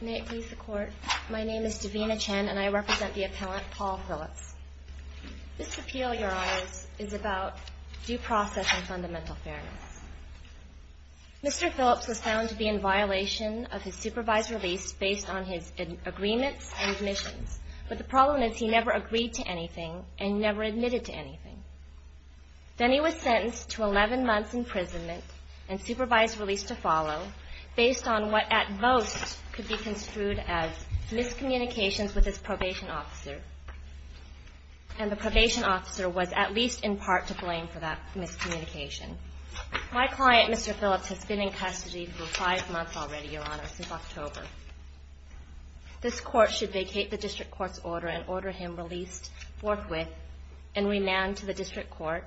May it please the Court, my name is Davina Chen and I represent the appellant Paul Phillips. This appeal, your honors, is about due process and fundamental fairness. Mr. Phillips was found to be in violation of his supervised release based on his agreements and admissions, but the problem is he never agreed to anything and never admitted to anything. Then he was sentenced to 11 months imprisonment and supervised release to follow based on what at most could be construed as miscommunications with his probation officer, and the probation officer was at least in part to blame for that miscommunication. My client, Mr. Phillips, has been in custody for five months already, your honors, since October. This Court should vacate the district court's order and order him released forthwith and remand to the district court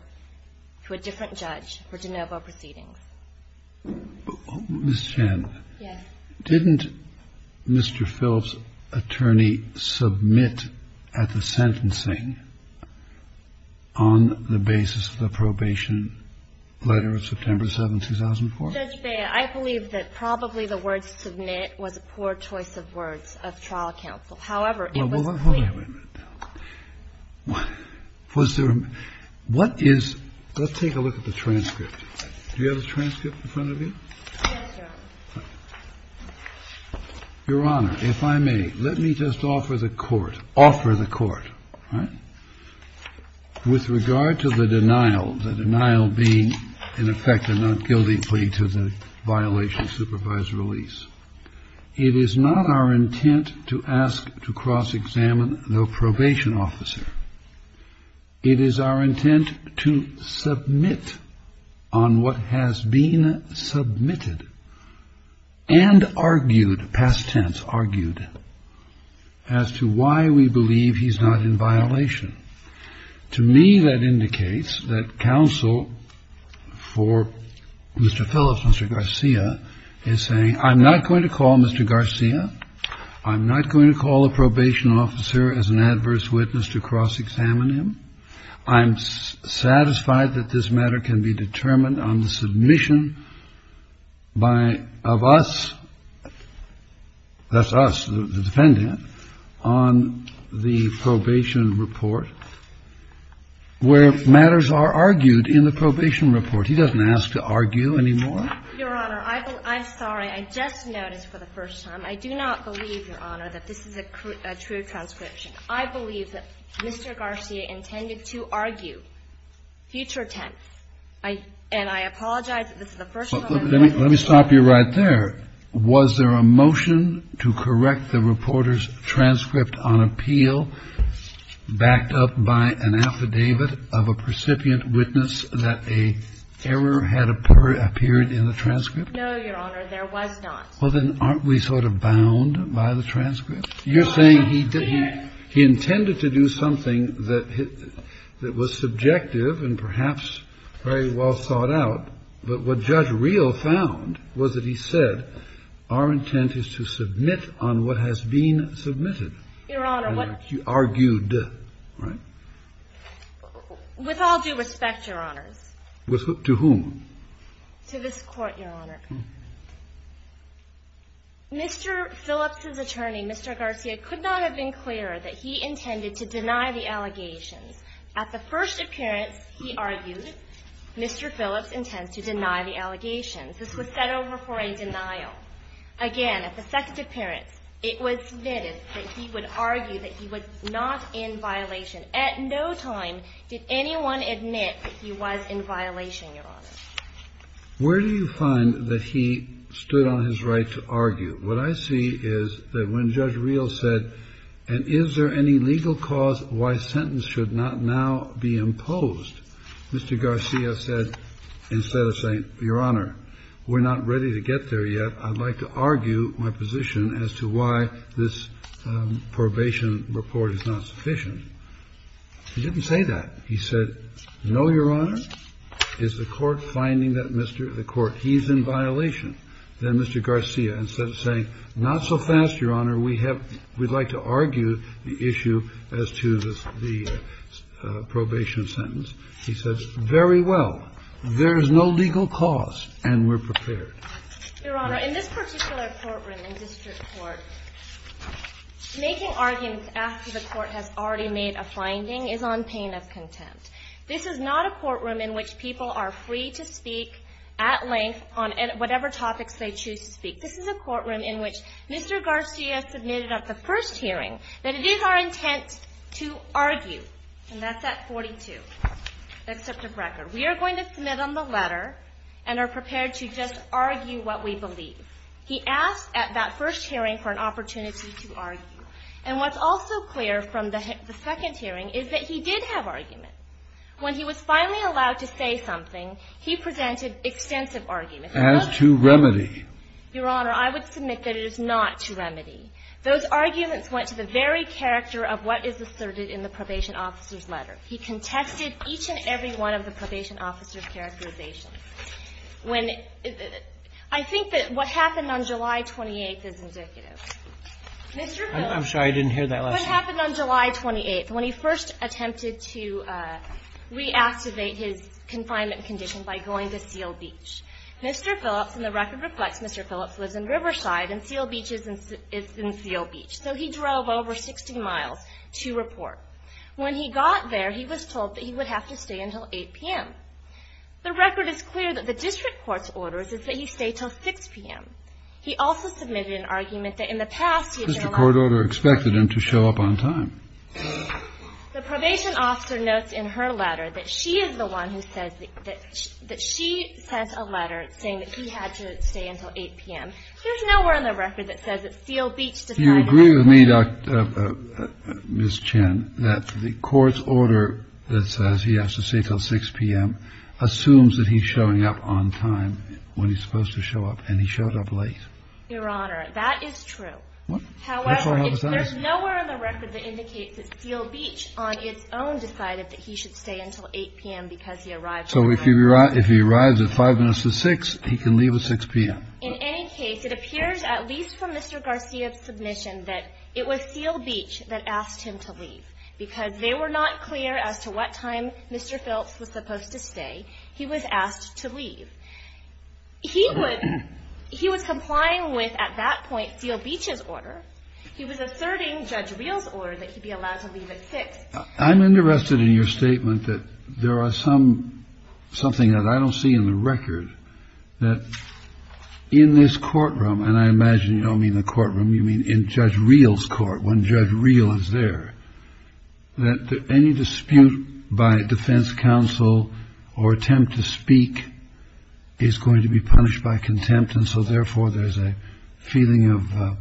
to a different judge for de novo proceedings. Mr. Chen. Yes. Didn't Mr. Phillips' attorney submit at the sentencing on the basis of the probation letter of September 7, 2004? Judge Bea, I believe that probably the word submit was a poor choice of words of trial counsel. However, it was clear. Well, wait a minute now. Was there a – what is – let's take a look at the transcript. Do you have the transcript in front of you? Yes, Your Honor. Your Honor, if I may, let me just offer the Court – offer the Court, all right? With regard to the denial, the denial being, in effect, a not guilty plea to the violation of supervised release, it is not our intent to ask to cross-examine the probation officer. It is our intent to submit on what has been submitted and argued, past tense argued, as to why we believe he's not in violation. To me, that indicates that counsel for Mr. Phillips, Mr. Garcia, is saying, I'm not going to call Mr. Garcia. I'm not going to call the probation officer as an adverse witness to cross-examine him. I'm satisfied that this matter can be determined on the submission by – of us – that's us, the defendant – on the probation report, where matters are argued in the probation report. He doesn't ask to argue anymore. Your Honor, I'm sorry. I just noticed for the first time. I do not believe, Your Honor, that this is a true transcription. I believe that Mr. Garcia intended to argue future tense. And I apologize if this is the first time I've heard this. Let me stop you right there. Was there a motion to correct the reporter's transcript on appeal backed up by an affidavit of a precipient witness that an error had appeared in the transcript? No, Your Honor. There was not. Well, then, aren't we sort of bound by the transcript? You're saying he intended to do something that was subjective and perhaps very well thought out. But what Judge Reel found was that he said, our intent is to submit on what has been submitted. Your Honor, what – What you argued, right? With all due respect, Your Honors. To whom? To this Court, Your Honor. Mr. Phillips's attorney, Mr. Garcia, could not have been clearer that he intended to deny the allegations. At the first appearance, he argued Mr. Phillips intends to deny the allegations. This was set over for a denial. Again, at the second appearance, it was noted that he would argue that he was not in violation. At no time did anyone admit that he was in violation, Your Honor. Where do you find that he stood on his right to argue? What I see is that when Judge Reel said, and is there any legal cause why sentence should not now be imposed, Mr. Garcia said, instead of saying, Your Honor, we're not ready to get there yet, I'd like to argue my position as to why this probation report is not sufficient, he didn't say that. He said, no, Your Honor. Is the Court finding that Mr. – the Court – he's in violation, then Mr. Garcia, instead of saying, not so fast, Your Honor, we have – we'd like to argue the issue as to the probation sentence. He says, very well. There is no legal cause and we're prepared. Your Honor, in this particular courtroom in district court, making arguments after the Court has already made a finding is on pain of contempt. This is not a courtroom in which people are free to speak at length on whatever topics they choose to speak. This is a courtroom in which Mr. Garcia submitted at the first hearing that it is our intent to argue. And that's at 42. Except of record. We are going to submit on the letter and are prepared to just argue what we believe. He asked at that first hearing for an opportunity to argue. And what's also clear from the second hearing is that he did have arguments. When he was finally allowed to say something, he presented extensive arguments. As to remedy. Your Honor, I would submit that it is not to remedy. Those arguments went to the very character of what is asserted in the probation officer's letter. He contested each and every one of the probation officer's characterizations. When I think that what happened on July 28th is indicative. Mr. Phillips. I'm sorry. I didn't hear that last time. What happened on July 28th when he first attempted to reactivate his confinement condition by going to Seal Beach. Mr. Phillips, and the record reflects Mr. Phillips, lives in Riverside and Seal Beach is in Seal Beach. So he drove over 60 miles to report. When he got there, he was told that he would have to stay until 8 p.m. The record is clear that the district court's orders is that he stay until 6 p.m. He also submitted an argument that in the past he had been allowed to stay. The court order expected him to show up on time. The probation officer notes in her letter that she is the one who says that she sent a letter saying that he had to stay until 8 p.m. You agree with me, Miss Chen, that the court's order that says he has to stay till 6 p.m. assumes that he's showing up on time when he's supposed to show up. And he showed up late. Your Honor, that is true. However, there's nowhere in the record that indicates that Seal Beach on its own decided that he should stay until 8 p.m. because he arrived. So if you were right, if he arrives at five minutes to six, he can leave at 6 p.m. In any case, it appears, at least from Mr. Garcia's submission, that it was Seal Beach that asked him to leave because they were not clear as to what time Mr. Phelps was supposed to stay. He was asked to leave. He was complying with, at that point, Seal Beach's order. He was asserting Judge Reel's order that he be allowed to leave at 6 p.m. I'm interested in your statement that there are some – something that I don't see in the record that in this courtroom – and I imagine you don't mean the courtroom, you mean in Judge Reel's court when Judge Reel is there – that any dispute by defense counsel or attempt to speak is going to be punished by contempt. And so, therefore, there's a feeling of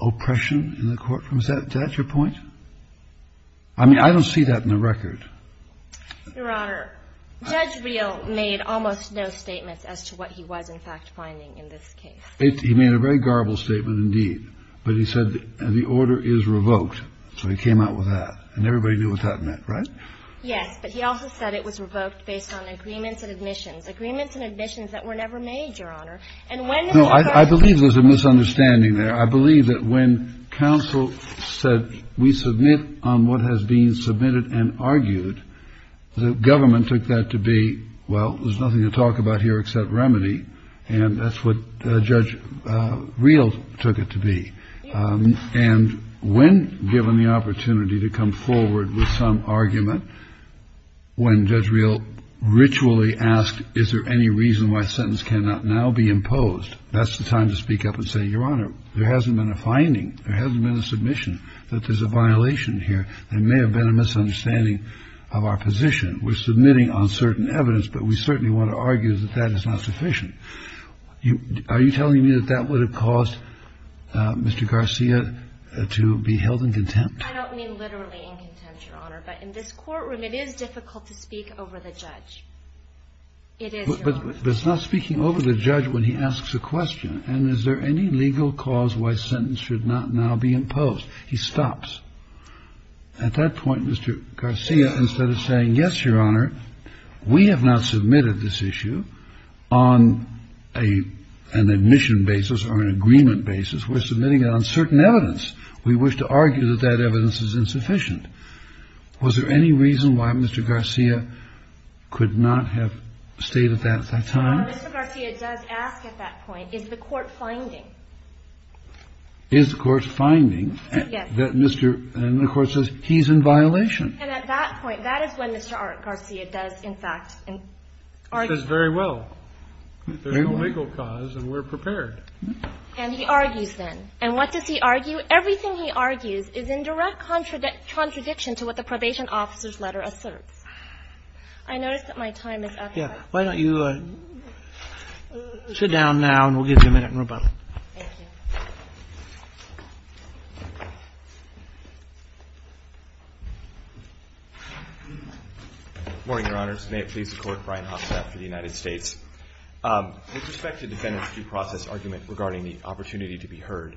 oppression in the courtroom. Is that your point? I mean, I don't see that in the record. Your Honor, Judge Reel made almost no statements as to what he was, in fact, finding in this case. He made a very garbled statement, indeed. But he said the order is revoked. So he came out with that. And everybody knew what that meant, right? Yes. But he also said it was revoked based on agreements and admissions, agreements and admissions that were never made, Your Honor. And when – No, I believe there's a misunderstanding there. I believe that when counsel said we submit on what has been submitted and argued, the government took that to be, well, there's nothing to talk about here except remedy, and that's what Judge Reel took it to be. And when given the opportunity to come forward with some argument, when Judge Reel ritually asked, is there any reason why a sentence cannot now be imposed, that's the time to speak up and say, Your Honor, there hasn't been a finding, there hasn't been a submission that there's a violation here. There may have been a misunderstanding of our position. We're submitting on certain evidence, but we certainly want to argue that that is not sufficient. Are you telling me that that would have caused Mr. Garcia to be held in contempt? I don't mean literally in contempt, Your Honor. But in this courtroom, it is difficult to speak over the judge. It is, Your Honor. But it's not speaking over the judge when he asks a question. And is there any legal cause why a sentence should not now be imposed? He stops. At that point, Mr. Garcia, instead of saying, Yes, Your Honor, we have not submitted this issue on an admission basis or an agreement basis. We're submitting it on certain evidence. We wish to argue that that evidence is insufficient. Was there any reason why Mr. Garcia could not have stayed at that time? Well, Mr. Garcia does ask at that point, Is the court finding? Is the court finding that Mr. And the court says, He's in violation. And at that point, that is when Mr. Garcia does, in fact, argue. He says, Very well. There's no legal cause and we're prepared. And he argues then. And what does he argue? Everything he argues is in direct contradiction to what the probation officer's letter asserts. I notice that my time is up. Yeah. Why don't you sit down now and we'll give you a minute and rebuttal. Thank you. Good morning, Your Honors. May it please the Court. Brian Hofstadt for the United States. With respect to defendant's due process argument regarding the opportunity to be heard,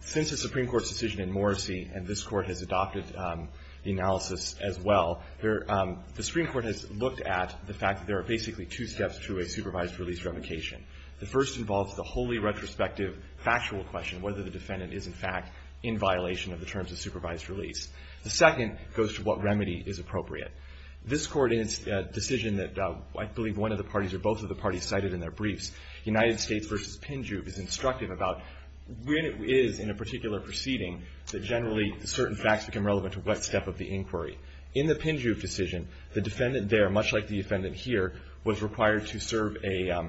since the Supreme Court's decision in Morrissey, and this Court has adopted the analysis as well, the Supreme Court has looked at the fact that there are basically two steps to a supervised release revocation. The first involves the wholly retrospective factual question, whether the defendant is, in fact, in violation of the terms of supervised release. The second goes to what remedy is appropriate. This Court in its decision that I believe one of the parties or both of the parties cited in their briefs, the United States v. Pinju is instructive about when it is in a particular proceeding that generally certain facts become relevant to what step of the inquiry. In the Pinju decision, the defendant there, much like the defendant here, was required to serve a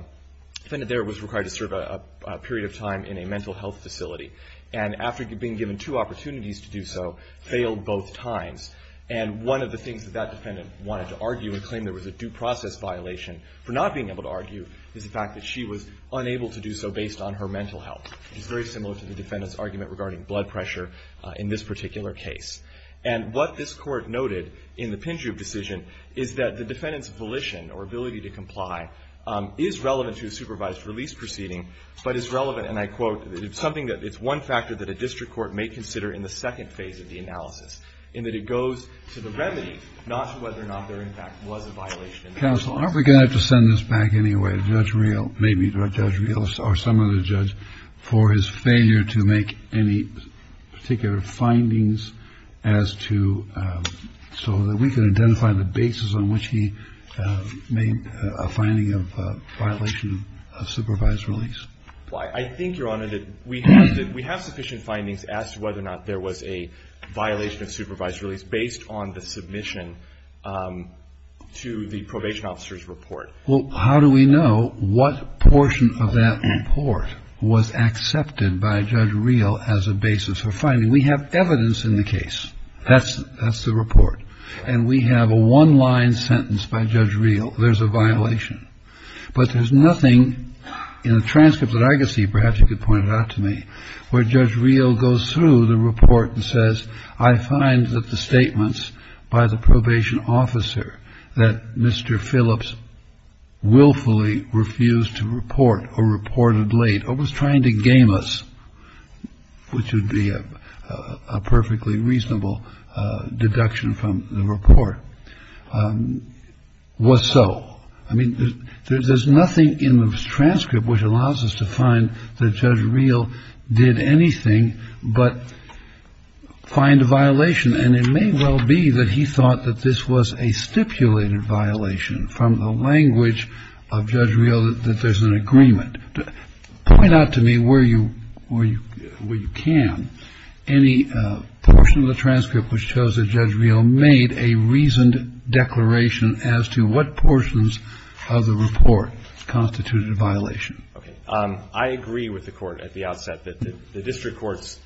period of time in a mental health facility. And after being given two opportunities to do so, failed both times. And one of the things that that defendant wanted to argue and claim there was a due process violation for not being able to argue is the fact that she was unable to do so based on her mental health, which is very similar to the defendant's argument regarding blood pressure in this particular case. And what this Court noted in the Pinju decision is that the defendant's volition or ability to comply is relevant to a supervised release proceeding, but is relevant and I quote, it's something that it's one factor that a district court may consider in the second phase of the analysis, in that it goes to the remedy, not to whether or not there, in fact, was a violation. Kennedy. Counsel, aren't we going to have to send this back anyway to Judge Reel, maybe Judge Reel or some other judge, for his failure to make any particular findings as to, so that we can identify the basis on which he made a finding of a violation of supervised release? Pinju. I think, Your Honor, that we have sufficient findings as to whether or not there was a violation of supervised release based on the submission to the probation officer's report. Kennedy. Well, how do we know what portion of that report was accepted by Judge Reel as a basis for finding? We have evidence in the case. That's the report. And we have a one-line sentence by Judge Reel, there's a violation. But there's nothing in the transcripts that I could see, perhaps you could point it out to me, where Judge Reel goes through the report and says, I find that the statements by the probation officer that Mr. Phillips willfully refused to report or reported late or was trying to game us, which would be a perfectly reasonable deduction from the report, was so. I mean, there's nothing in the transcript which allows us to find that Judge Reel did anything but find a violation. And it may well be that he thought that this was a stipulated violation from the language of Judge Reel that there's an agreement. Point out to me where you can. Any portion of the transcript which shows that Judge Reel made a reasoned declaration as to what portions of the report constituted a violation. Okay. I agree with the Court at the outset that the district court's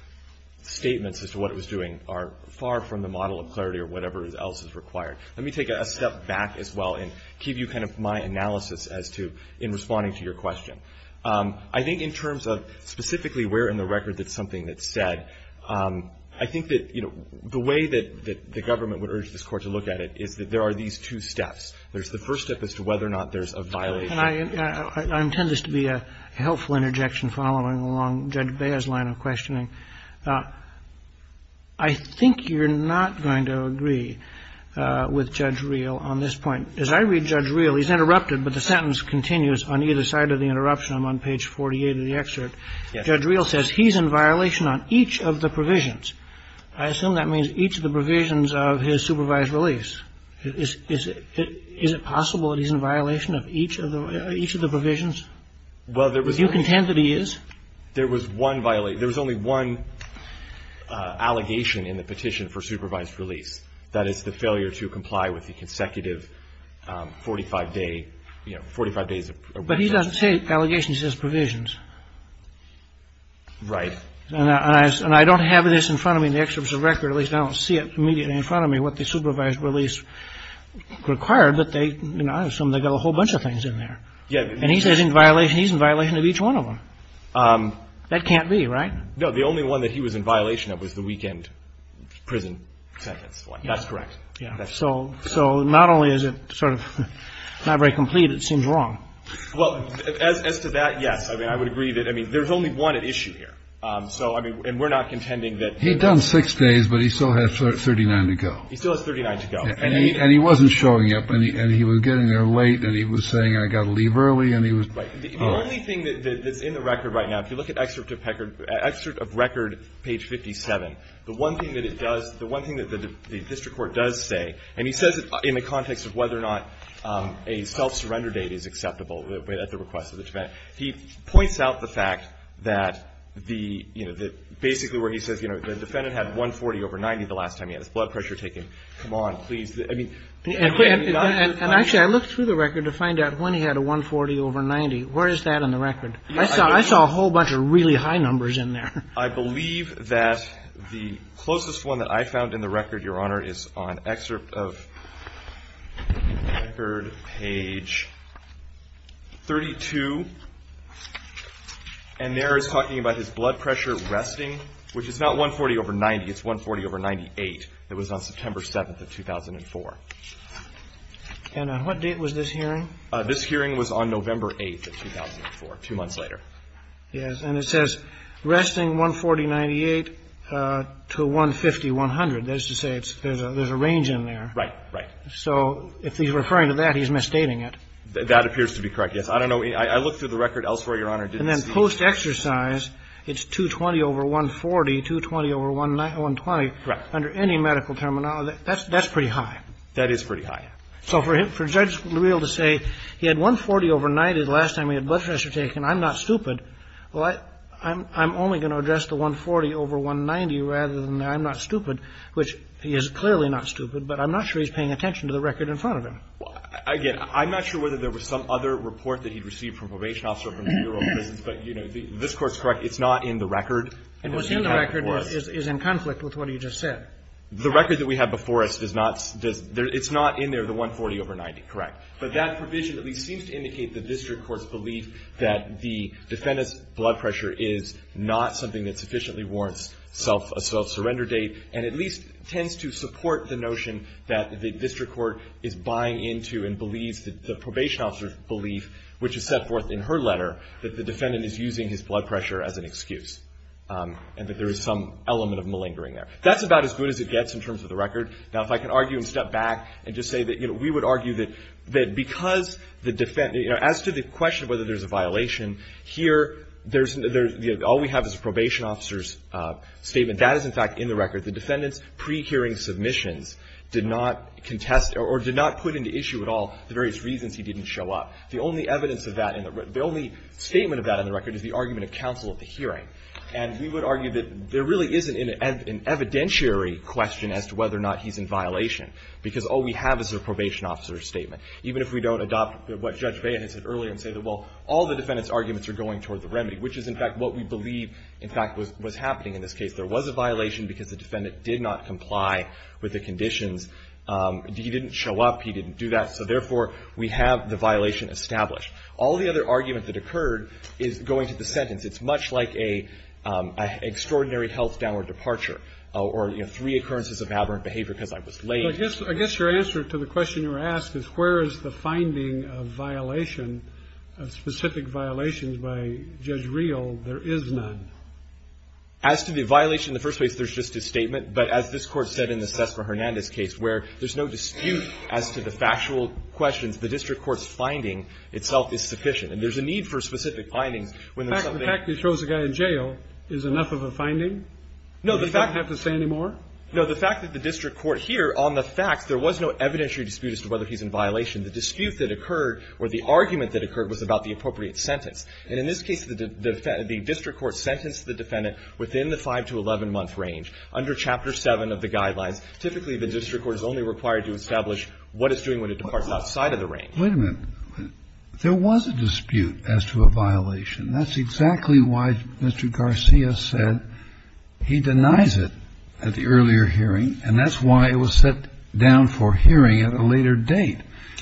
statements as to what it was doing are far from the model of clarity or whatever else is required. Let me take a step back as well and give you kind of my analysis as to in responding to your question. I think in terms of specifically where in the record that's something that's said, I think that, you know, the way that the government would urge this Court to look at it is that there are these two steps. There's the first step as to whether or not there's a violation. And I intend this to be a helpful interjection following along Judge Beah's line of questioning. I think you're not going to agree with Judge Reel on this point. As I read Judge Reel, he's interrupted, but the sentence continues on either side of the interruption. I'm on page 48 of the excerpt. Yes. Judge Reel says he's in violation on each of the provisions. I assume that means each of the provisions of his supervised release. Is it possible that he's in violation of each of the provisions? Are you content that he is? There was one violation. There was only one allegation in the petition for supervised release. That is the failure to comply with the consecutive 45-day, you know, 45 days of probation. But he doesn't say allegations. He says provisions. Right. And I don't have this in front of me in the excerpt of the record. At least I don't see it immediately in front of me what the supervised release required, but I assume they've got a whole bunch of things in there. And he says he's in violation of each one of them. That can't be, right? No, the only one that he was in violation of was the weekend prison sentence. That's correct. So not only is it sort of not very complete, it seems wrong. Well, as to that, yes. I mean, I would agree that, I mean, there's only one at issue here. So, I mean, and we're not contending that. He'd done 6 days, but he still had 39 to go. He still has 39 to go. And he wasn't showing up. And he was getting there late, and he was saying I've got to leave early, and he was. Right. The only thing that's in the record right now, if you look at excerpt of record page 57, the one thing that it does, the one thing that the district court does say, and he says it in the context of whether or not a self-surrender date is acceptable at the request of the defendant. He points out the fact that the, you know, that basically where he says, you know, the defendant had 140 over 90 the last time he had his blood pressure taken. Come on, please. I mean. And actually, I looked through the record to find out when he had a 140 over 90. Where is that in the record? I saw a whole bunch of really high numbers in there. I believe that the closest one that I found in the record, Your Honor, is on excerpt of record page 32. And there it's talking about his blood pressure resting, which is not 140 over 90. It's 140 over 98. It was on September 7th of 2004. And on what date was this hearing? This hearing was on November 8th of 2004, two months later. Yes. And it says resting 140, 98 to 150, 100. That is to say there's a range in there. Right, right. So if he's referring to that, he's misstating it. That appears to be correct, yes. I don't know. I looked through the record elsewhere, Your Honor. And then post-exercise, it's 220 over 140, 220 over 120. Right. Under any medical terminology, that's pretty high. That is pretty high. So for Judge Leal to say he had 140 over 90 the last time he had blood pressure taken, I'm not stupid. Well, I'm only going to address the 140 over 190 rather than I'm not stupid. Which he is clearly not stupid, but I'm not sure he's paying attention to the record in front of him. Again, I'm not sure whether there was some other report that he'd received from a probation officer or from the Bureau of Prisons. But, you know, this Court's correct. It's not in the record. And what's in the record is in conflict with what he just said. The record that we have before us does not does the – it's not in there, the 140 over 90, correct. But that provision at least seems to indicate the district court's belief that the defendant's blood pressure is not something that sufficiently warrants self-surrender date and at least tends to support the notion that the district court is buying into and believes that the probation officer's belief, which is set forth in her letter, that the defendant is using his blood pressure as an excuse and that there is some element of malingering there. That's about as good as it gets in terms of the record. Now, if I can argue and step back and just say that, you know, we would argue that because the – as to the question of whether there's a violation, here there's – all we have is a probation officer's statement. And that is, in fact, in the record. The defendant's pre-hearing submissions did not contest or did not put into issue at all the various reasons he didn't show up. The only evidence of that in the – the only statement of that in the record is the argument of counsel at the hearing. And we would argue that there really isn't an evidentiary question as to whether or not he's in violation, because all we have is a probation officer's statement. Even if we don't adopt what Judge Beyer had said earlier and say that, well, all the defendant's arguments are going toward the remedy, which is, in fact, what we believe in fact was happening in this case. There was a violation because the defendant did not comply with the conditions. He didn't show up. He didn't do that. So, therefore, we have the violation established. All the other argument that occurred is going to the sentence. It's much like a extraordinary health downward departure or, you know, three occurrences of aberrant behavior because I was late. I guess your answer to the question you were asked is where is the finding of violation, where is the finding of specific violations by Judge Real? There is none. As to the violation in the first place, there's just a statement. But as this Court said in the Cessna-Hernandez case, where there's no dispute as to the factual questions, the district court's finding itself is sufficient. And there's a need for specific findings when there's something – The fact that he throws a guy in jail is enough of a finding? No, the fact – He doesn't have to say any more? No, the fact that the district court here on the facts, there was no evidentiary dispute as to whether he's in violation. The dispute that occurred or the argument that occurred was about the appropriate sentence. And in this case, the district court sentenced the defendant within the 5 to 11-month range under Chapter 7 of the Guidelines. Typically, the district court is only required to establish what it's doing when it departs outside of the range. Wait a minute. There was a dispute as to a violation. That's exactly why Mr. Garcia said he denies it at the earlier hearing, and that's why it was set down for hearing at a later date.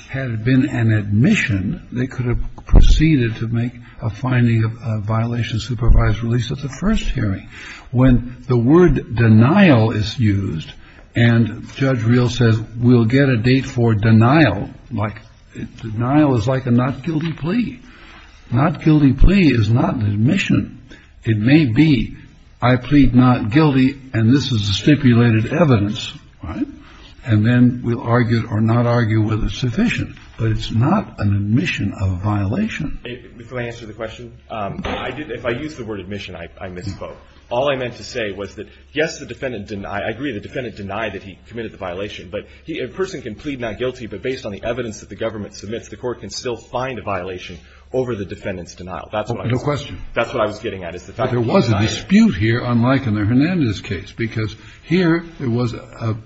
Had it been an admission, they could have proceeded to make a finding of a violation supervised release at the first hearing. When the word denial is used and Judge Reel says we'll get a date for denial, like denial is like a not-guilty plea. Not-guilty plea is not an admission. It may be I plead not guilty, and this is the stipulated evidence, right? And then we'll argue or not argue whether it's sufficient, but it's not an admission of a violation. Before I answer the question, if I use the word admission, I misspoke. All I meant to say was that, yes, the defendant denied. I agree the defendant denied that he committed the violation, but a person can plead not guilty, but based on the evidence that the government submits, the court can still find a violation over the defendant's denial. That's what I was getting at is the fact that he denied it. But there was a dispute here, unlike in the Hernandez case, because here there was an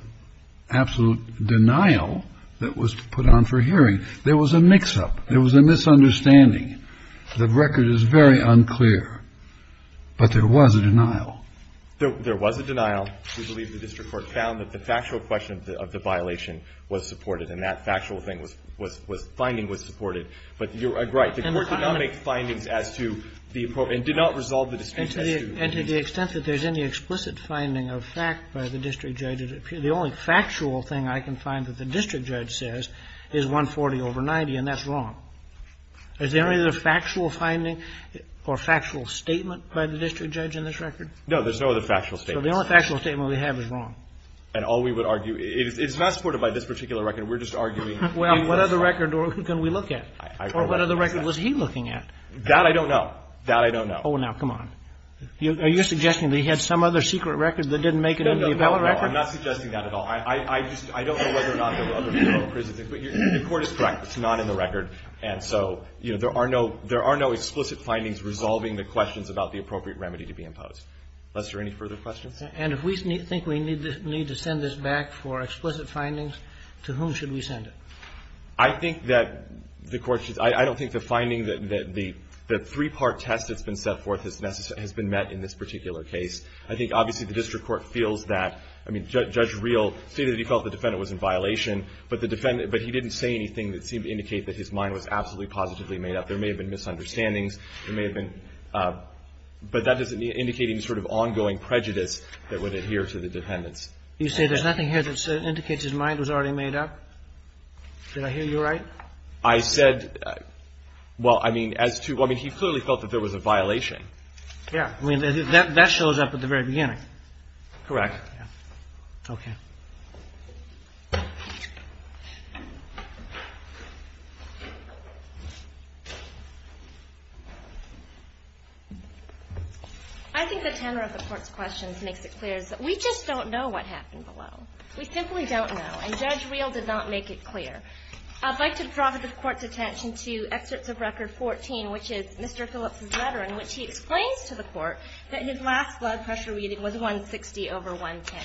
absolute denial that was put on for hearing. There was a mix-up. There was a misunderstanding. The record is very unclear. But there was a denial. There was a denial. We believe the district court found that the factual question of the violation was supported and that factual thing was finding was supported. But you're right. The court did not make findings as to the appropriate and did not resolve the dispute as to the dispute. And to the extent that there's any explicit finding of fact by the district judge, the only factual thing I can find that the district judge says is 140 over 90, and that's wrong. Is there any other factual finding or factual statement by the district judge in this record? No. There's no other factual statement. So the only factual statement we have is wrong. And all we would argue is it's not supported by this particular record. We're just arguing the fact. Well, what other record can we look at? Or what other record was he looking at? That I don't know. That I don't know. Oh, now, come on. Are you suggesting that he had some other secret record that didn't make it into the appellate record? No, no, no. I'm not suggesting that at all. I just don't know whether or not there were other federal prisons. The Court is correct. It's not in the record. And so, you know, there are no explicit findings resolving the questions about the appropriate remedy to be imposed. Lester, any further questions? And if we think we need to send this back for explicit findings, to whom should we send it? I think that the Court should – I don't think the finding that the three-part test that's been set forth has been met in this particular case. I think, obviously, the district court feels that – I mean, Judge Reel stated that he felt the defendant was in violation, but the defendant – but he didn't say anything that seemed to indicate that his mind was absolutely positively made up. There may have been misunderstandings. There may have been – but that doesn't indicate any sort of ongoing prejudice that would adhere to the defendant's. You say there's nothing here that indicates his mind was already made up? Did I hear you right? I said – well, I mean, as to – I mean, he clearly felt that there was a violation. Yeah. I mean, that shows up at the very beginning. Correct. Yeah. Okay. I think the tenor of the Court's questions makes it clear that we just don't know what happened below. We simply don't know. And Judge Reel did not make it clear. I'd like to draw the Court's attention to Excerpts of Record 14, which is Mr. Phillips's letter in which he explains to the Court that his last blood pressure reading was 160 over 110.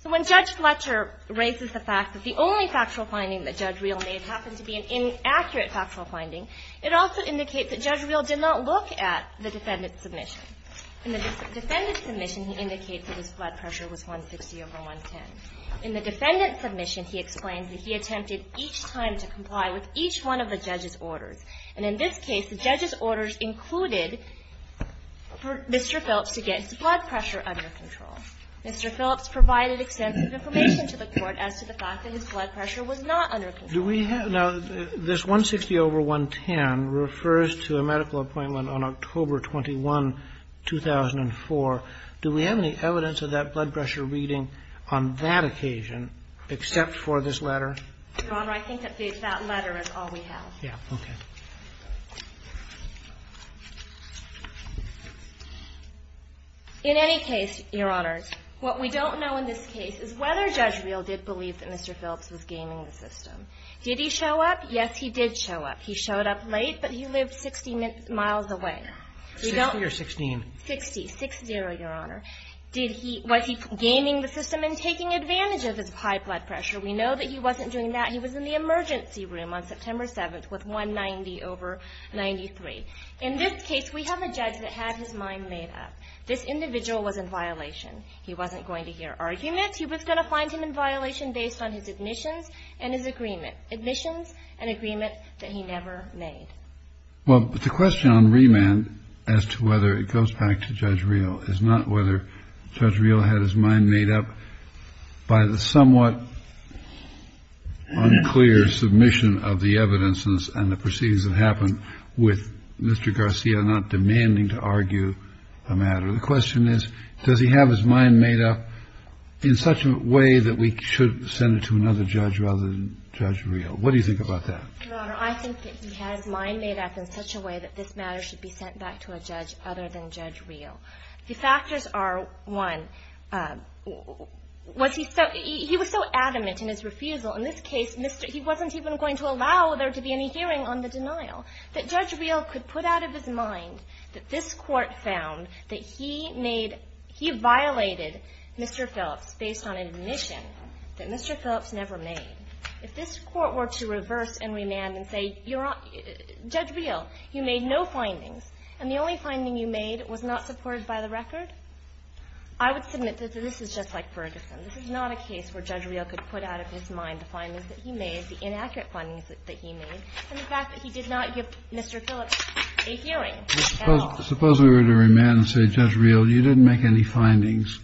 So when Judge Fletcher raises the fact that the only factual finding that Judge Reel made happened to be an inaccurate factual finding, it also indicates that Judge Reel did not look at the defendant's submission. In the defendant's submission, he indicates that his blood pressure was 160 over 110. In the defendant's submission, he explains that he attempted each time to comply with each one of the judge's orders. And in this case, the judge's orders included for Mr. Phillips to get his blood pressure under control. Mr. Phillips provided extensive information to the Court as to the fact that his blood pressure was not under control. Do we have now this 160 over 110 refers to a medical appointment on October 21, 2004. Do we have any evidence of that blood pressure reading on that occasion except for this letter? Your Honor, I think that that letter is all we have. Yeah. Okay. In any case, Your Honor, what we don't know in this case is whether Judge Reel did believe that Mr. Phillips was gaming the system. Did he show up? Yes, he did show up. He showed up late, but he lived 60 miles away. Sixty or sixteen? Sixty. Six zero, Your Honor. Did he – was he gaming the system and taking advantage of his high blood pressure? We know that he wasn't doing that. He was in the emergency room on September 7th with 190 over 93. In this case, we have a judge that had his mind made up. This individual was in violation. He wasn't going to hear arguments. He was going to find him in violation based on his admissions and his agreement – admissions and agreement that he never made. Well, the question on remand as to whether it goes back to Judge Reel is not whether Judge Reel had his mind made up by the somewhat unclear submission of the evidence and the proceedings that happened with Mr. Garcia not demanding to argue the matter. The question is, does he have his mind made up in such a way that we should send it to another judge rather than Judge Reel? What do you think about that? Your Honor, I think that he had his mind made up in such a way that this matter should be sent back to a judge other than Judge Reel. The factors are, one, was he so – he was so adamant in his refusal, in this case, he wasn't even going to allow there to be any hearing on the denial, that Judge Reel could put out of his mind that this Court found that he made – he violated Mr. Phillips based on admission that Mr. Phillips never made. If this Court were to reverse and remand and say, Judge Reel, you made no findings and the only finding you made was not supported by the record, I would submit that this is just like Ferguson. This is not a case where Judge Reel could put out of his mind the findings that he made, the inaccurate findings that he made, and the fact that he did not give Mr. Phillips a hearing. That's all. Suppose we were to remand and say, Judge Reel, you didn't make any findings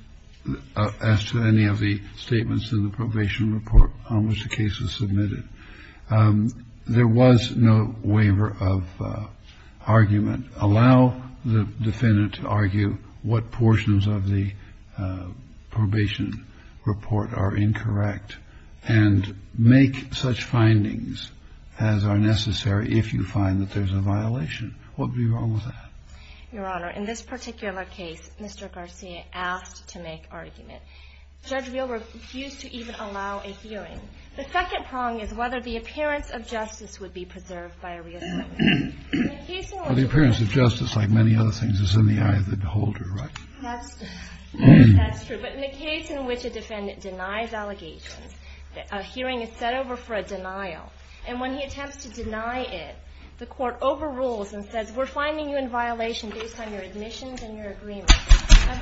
as to any of the statements in the probation report on which the case was submitted. There was no waiver of argument. Allow the defendant to argue what portions of the probation report are incorrect and make such findings as are necessary if you find that there's a violation. What would be wrong with that? Your Honor, in this particular case, Mr. Garcia asked to make argument. Judge Reel refused to even allow a hearing. The second prong is whether the appearance of justice would be preserved by a reassignment. Well, the appearance of justice, like many other things, is in the eye of the beholder, right? That's true. But in the case in which a defendant denies allegations, a hearing is set over for a denial. And when he attempts to deny it, the court overrules and says, we're finding you in violation based on your admissions and your agreement. I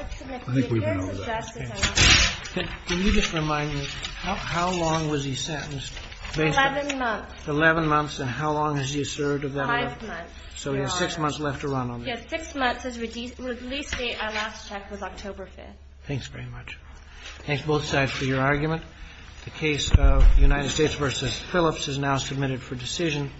think we've been over that. Can you just remind me, how long was he sentenced? Eleven months. Eleven months, and how long has he served? Five months, Your Honor. So he has six months left to run on that. Yes, six months. His release date, our last check, was October 5th. Thanks very much. Thanks, both sides, for your argument. The case of United States v. Phillips is now submitted for decision.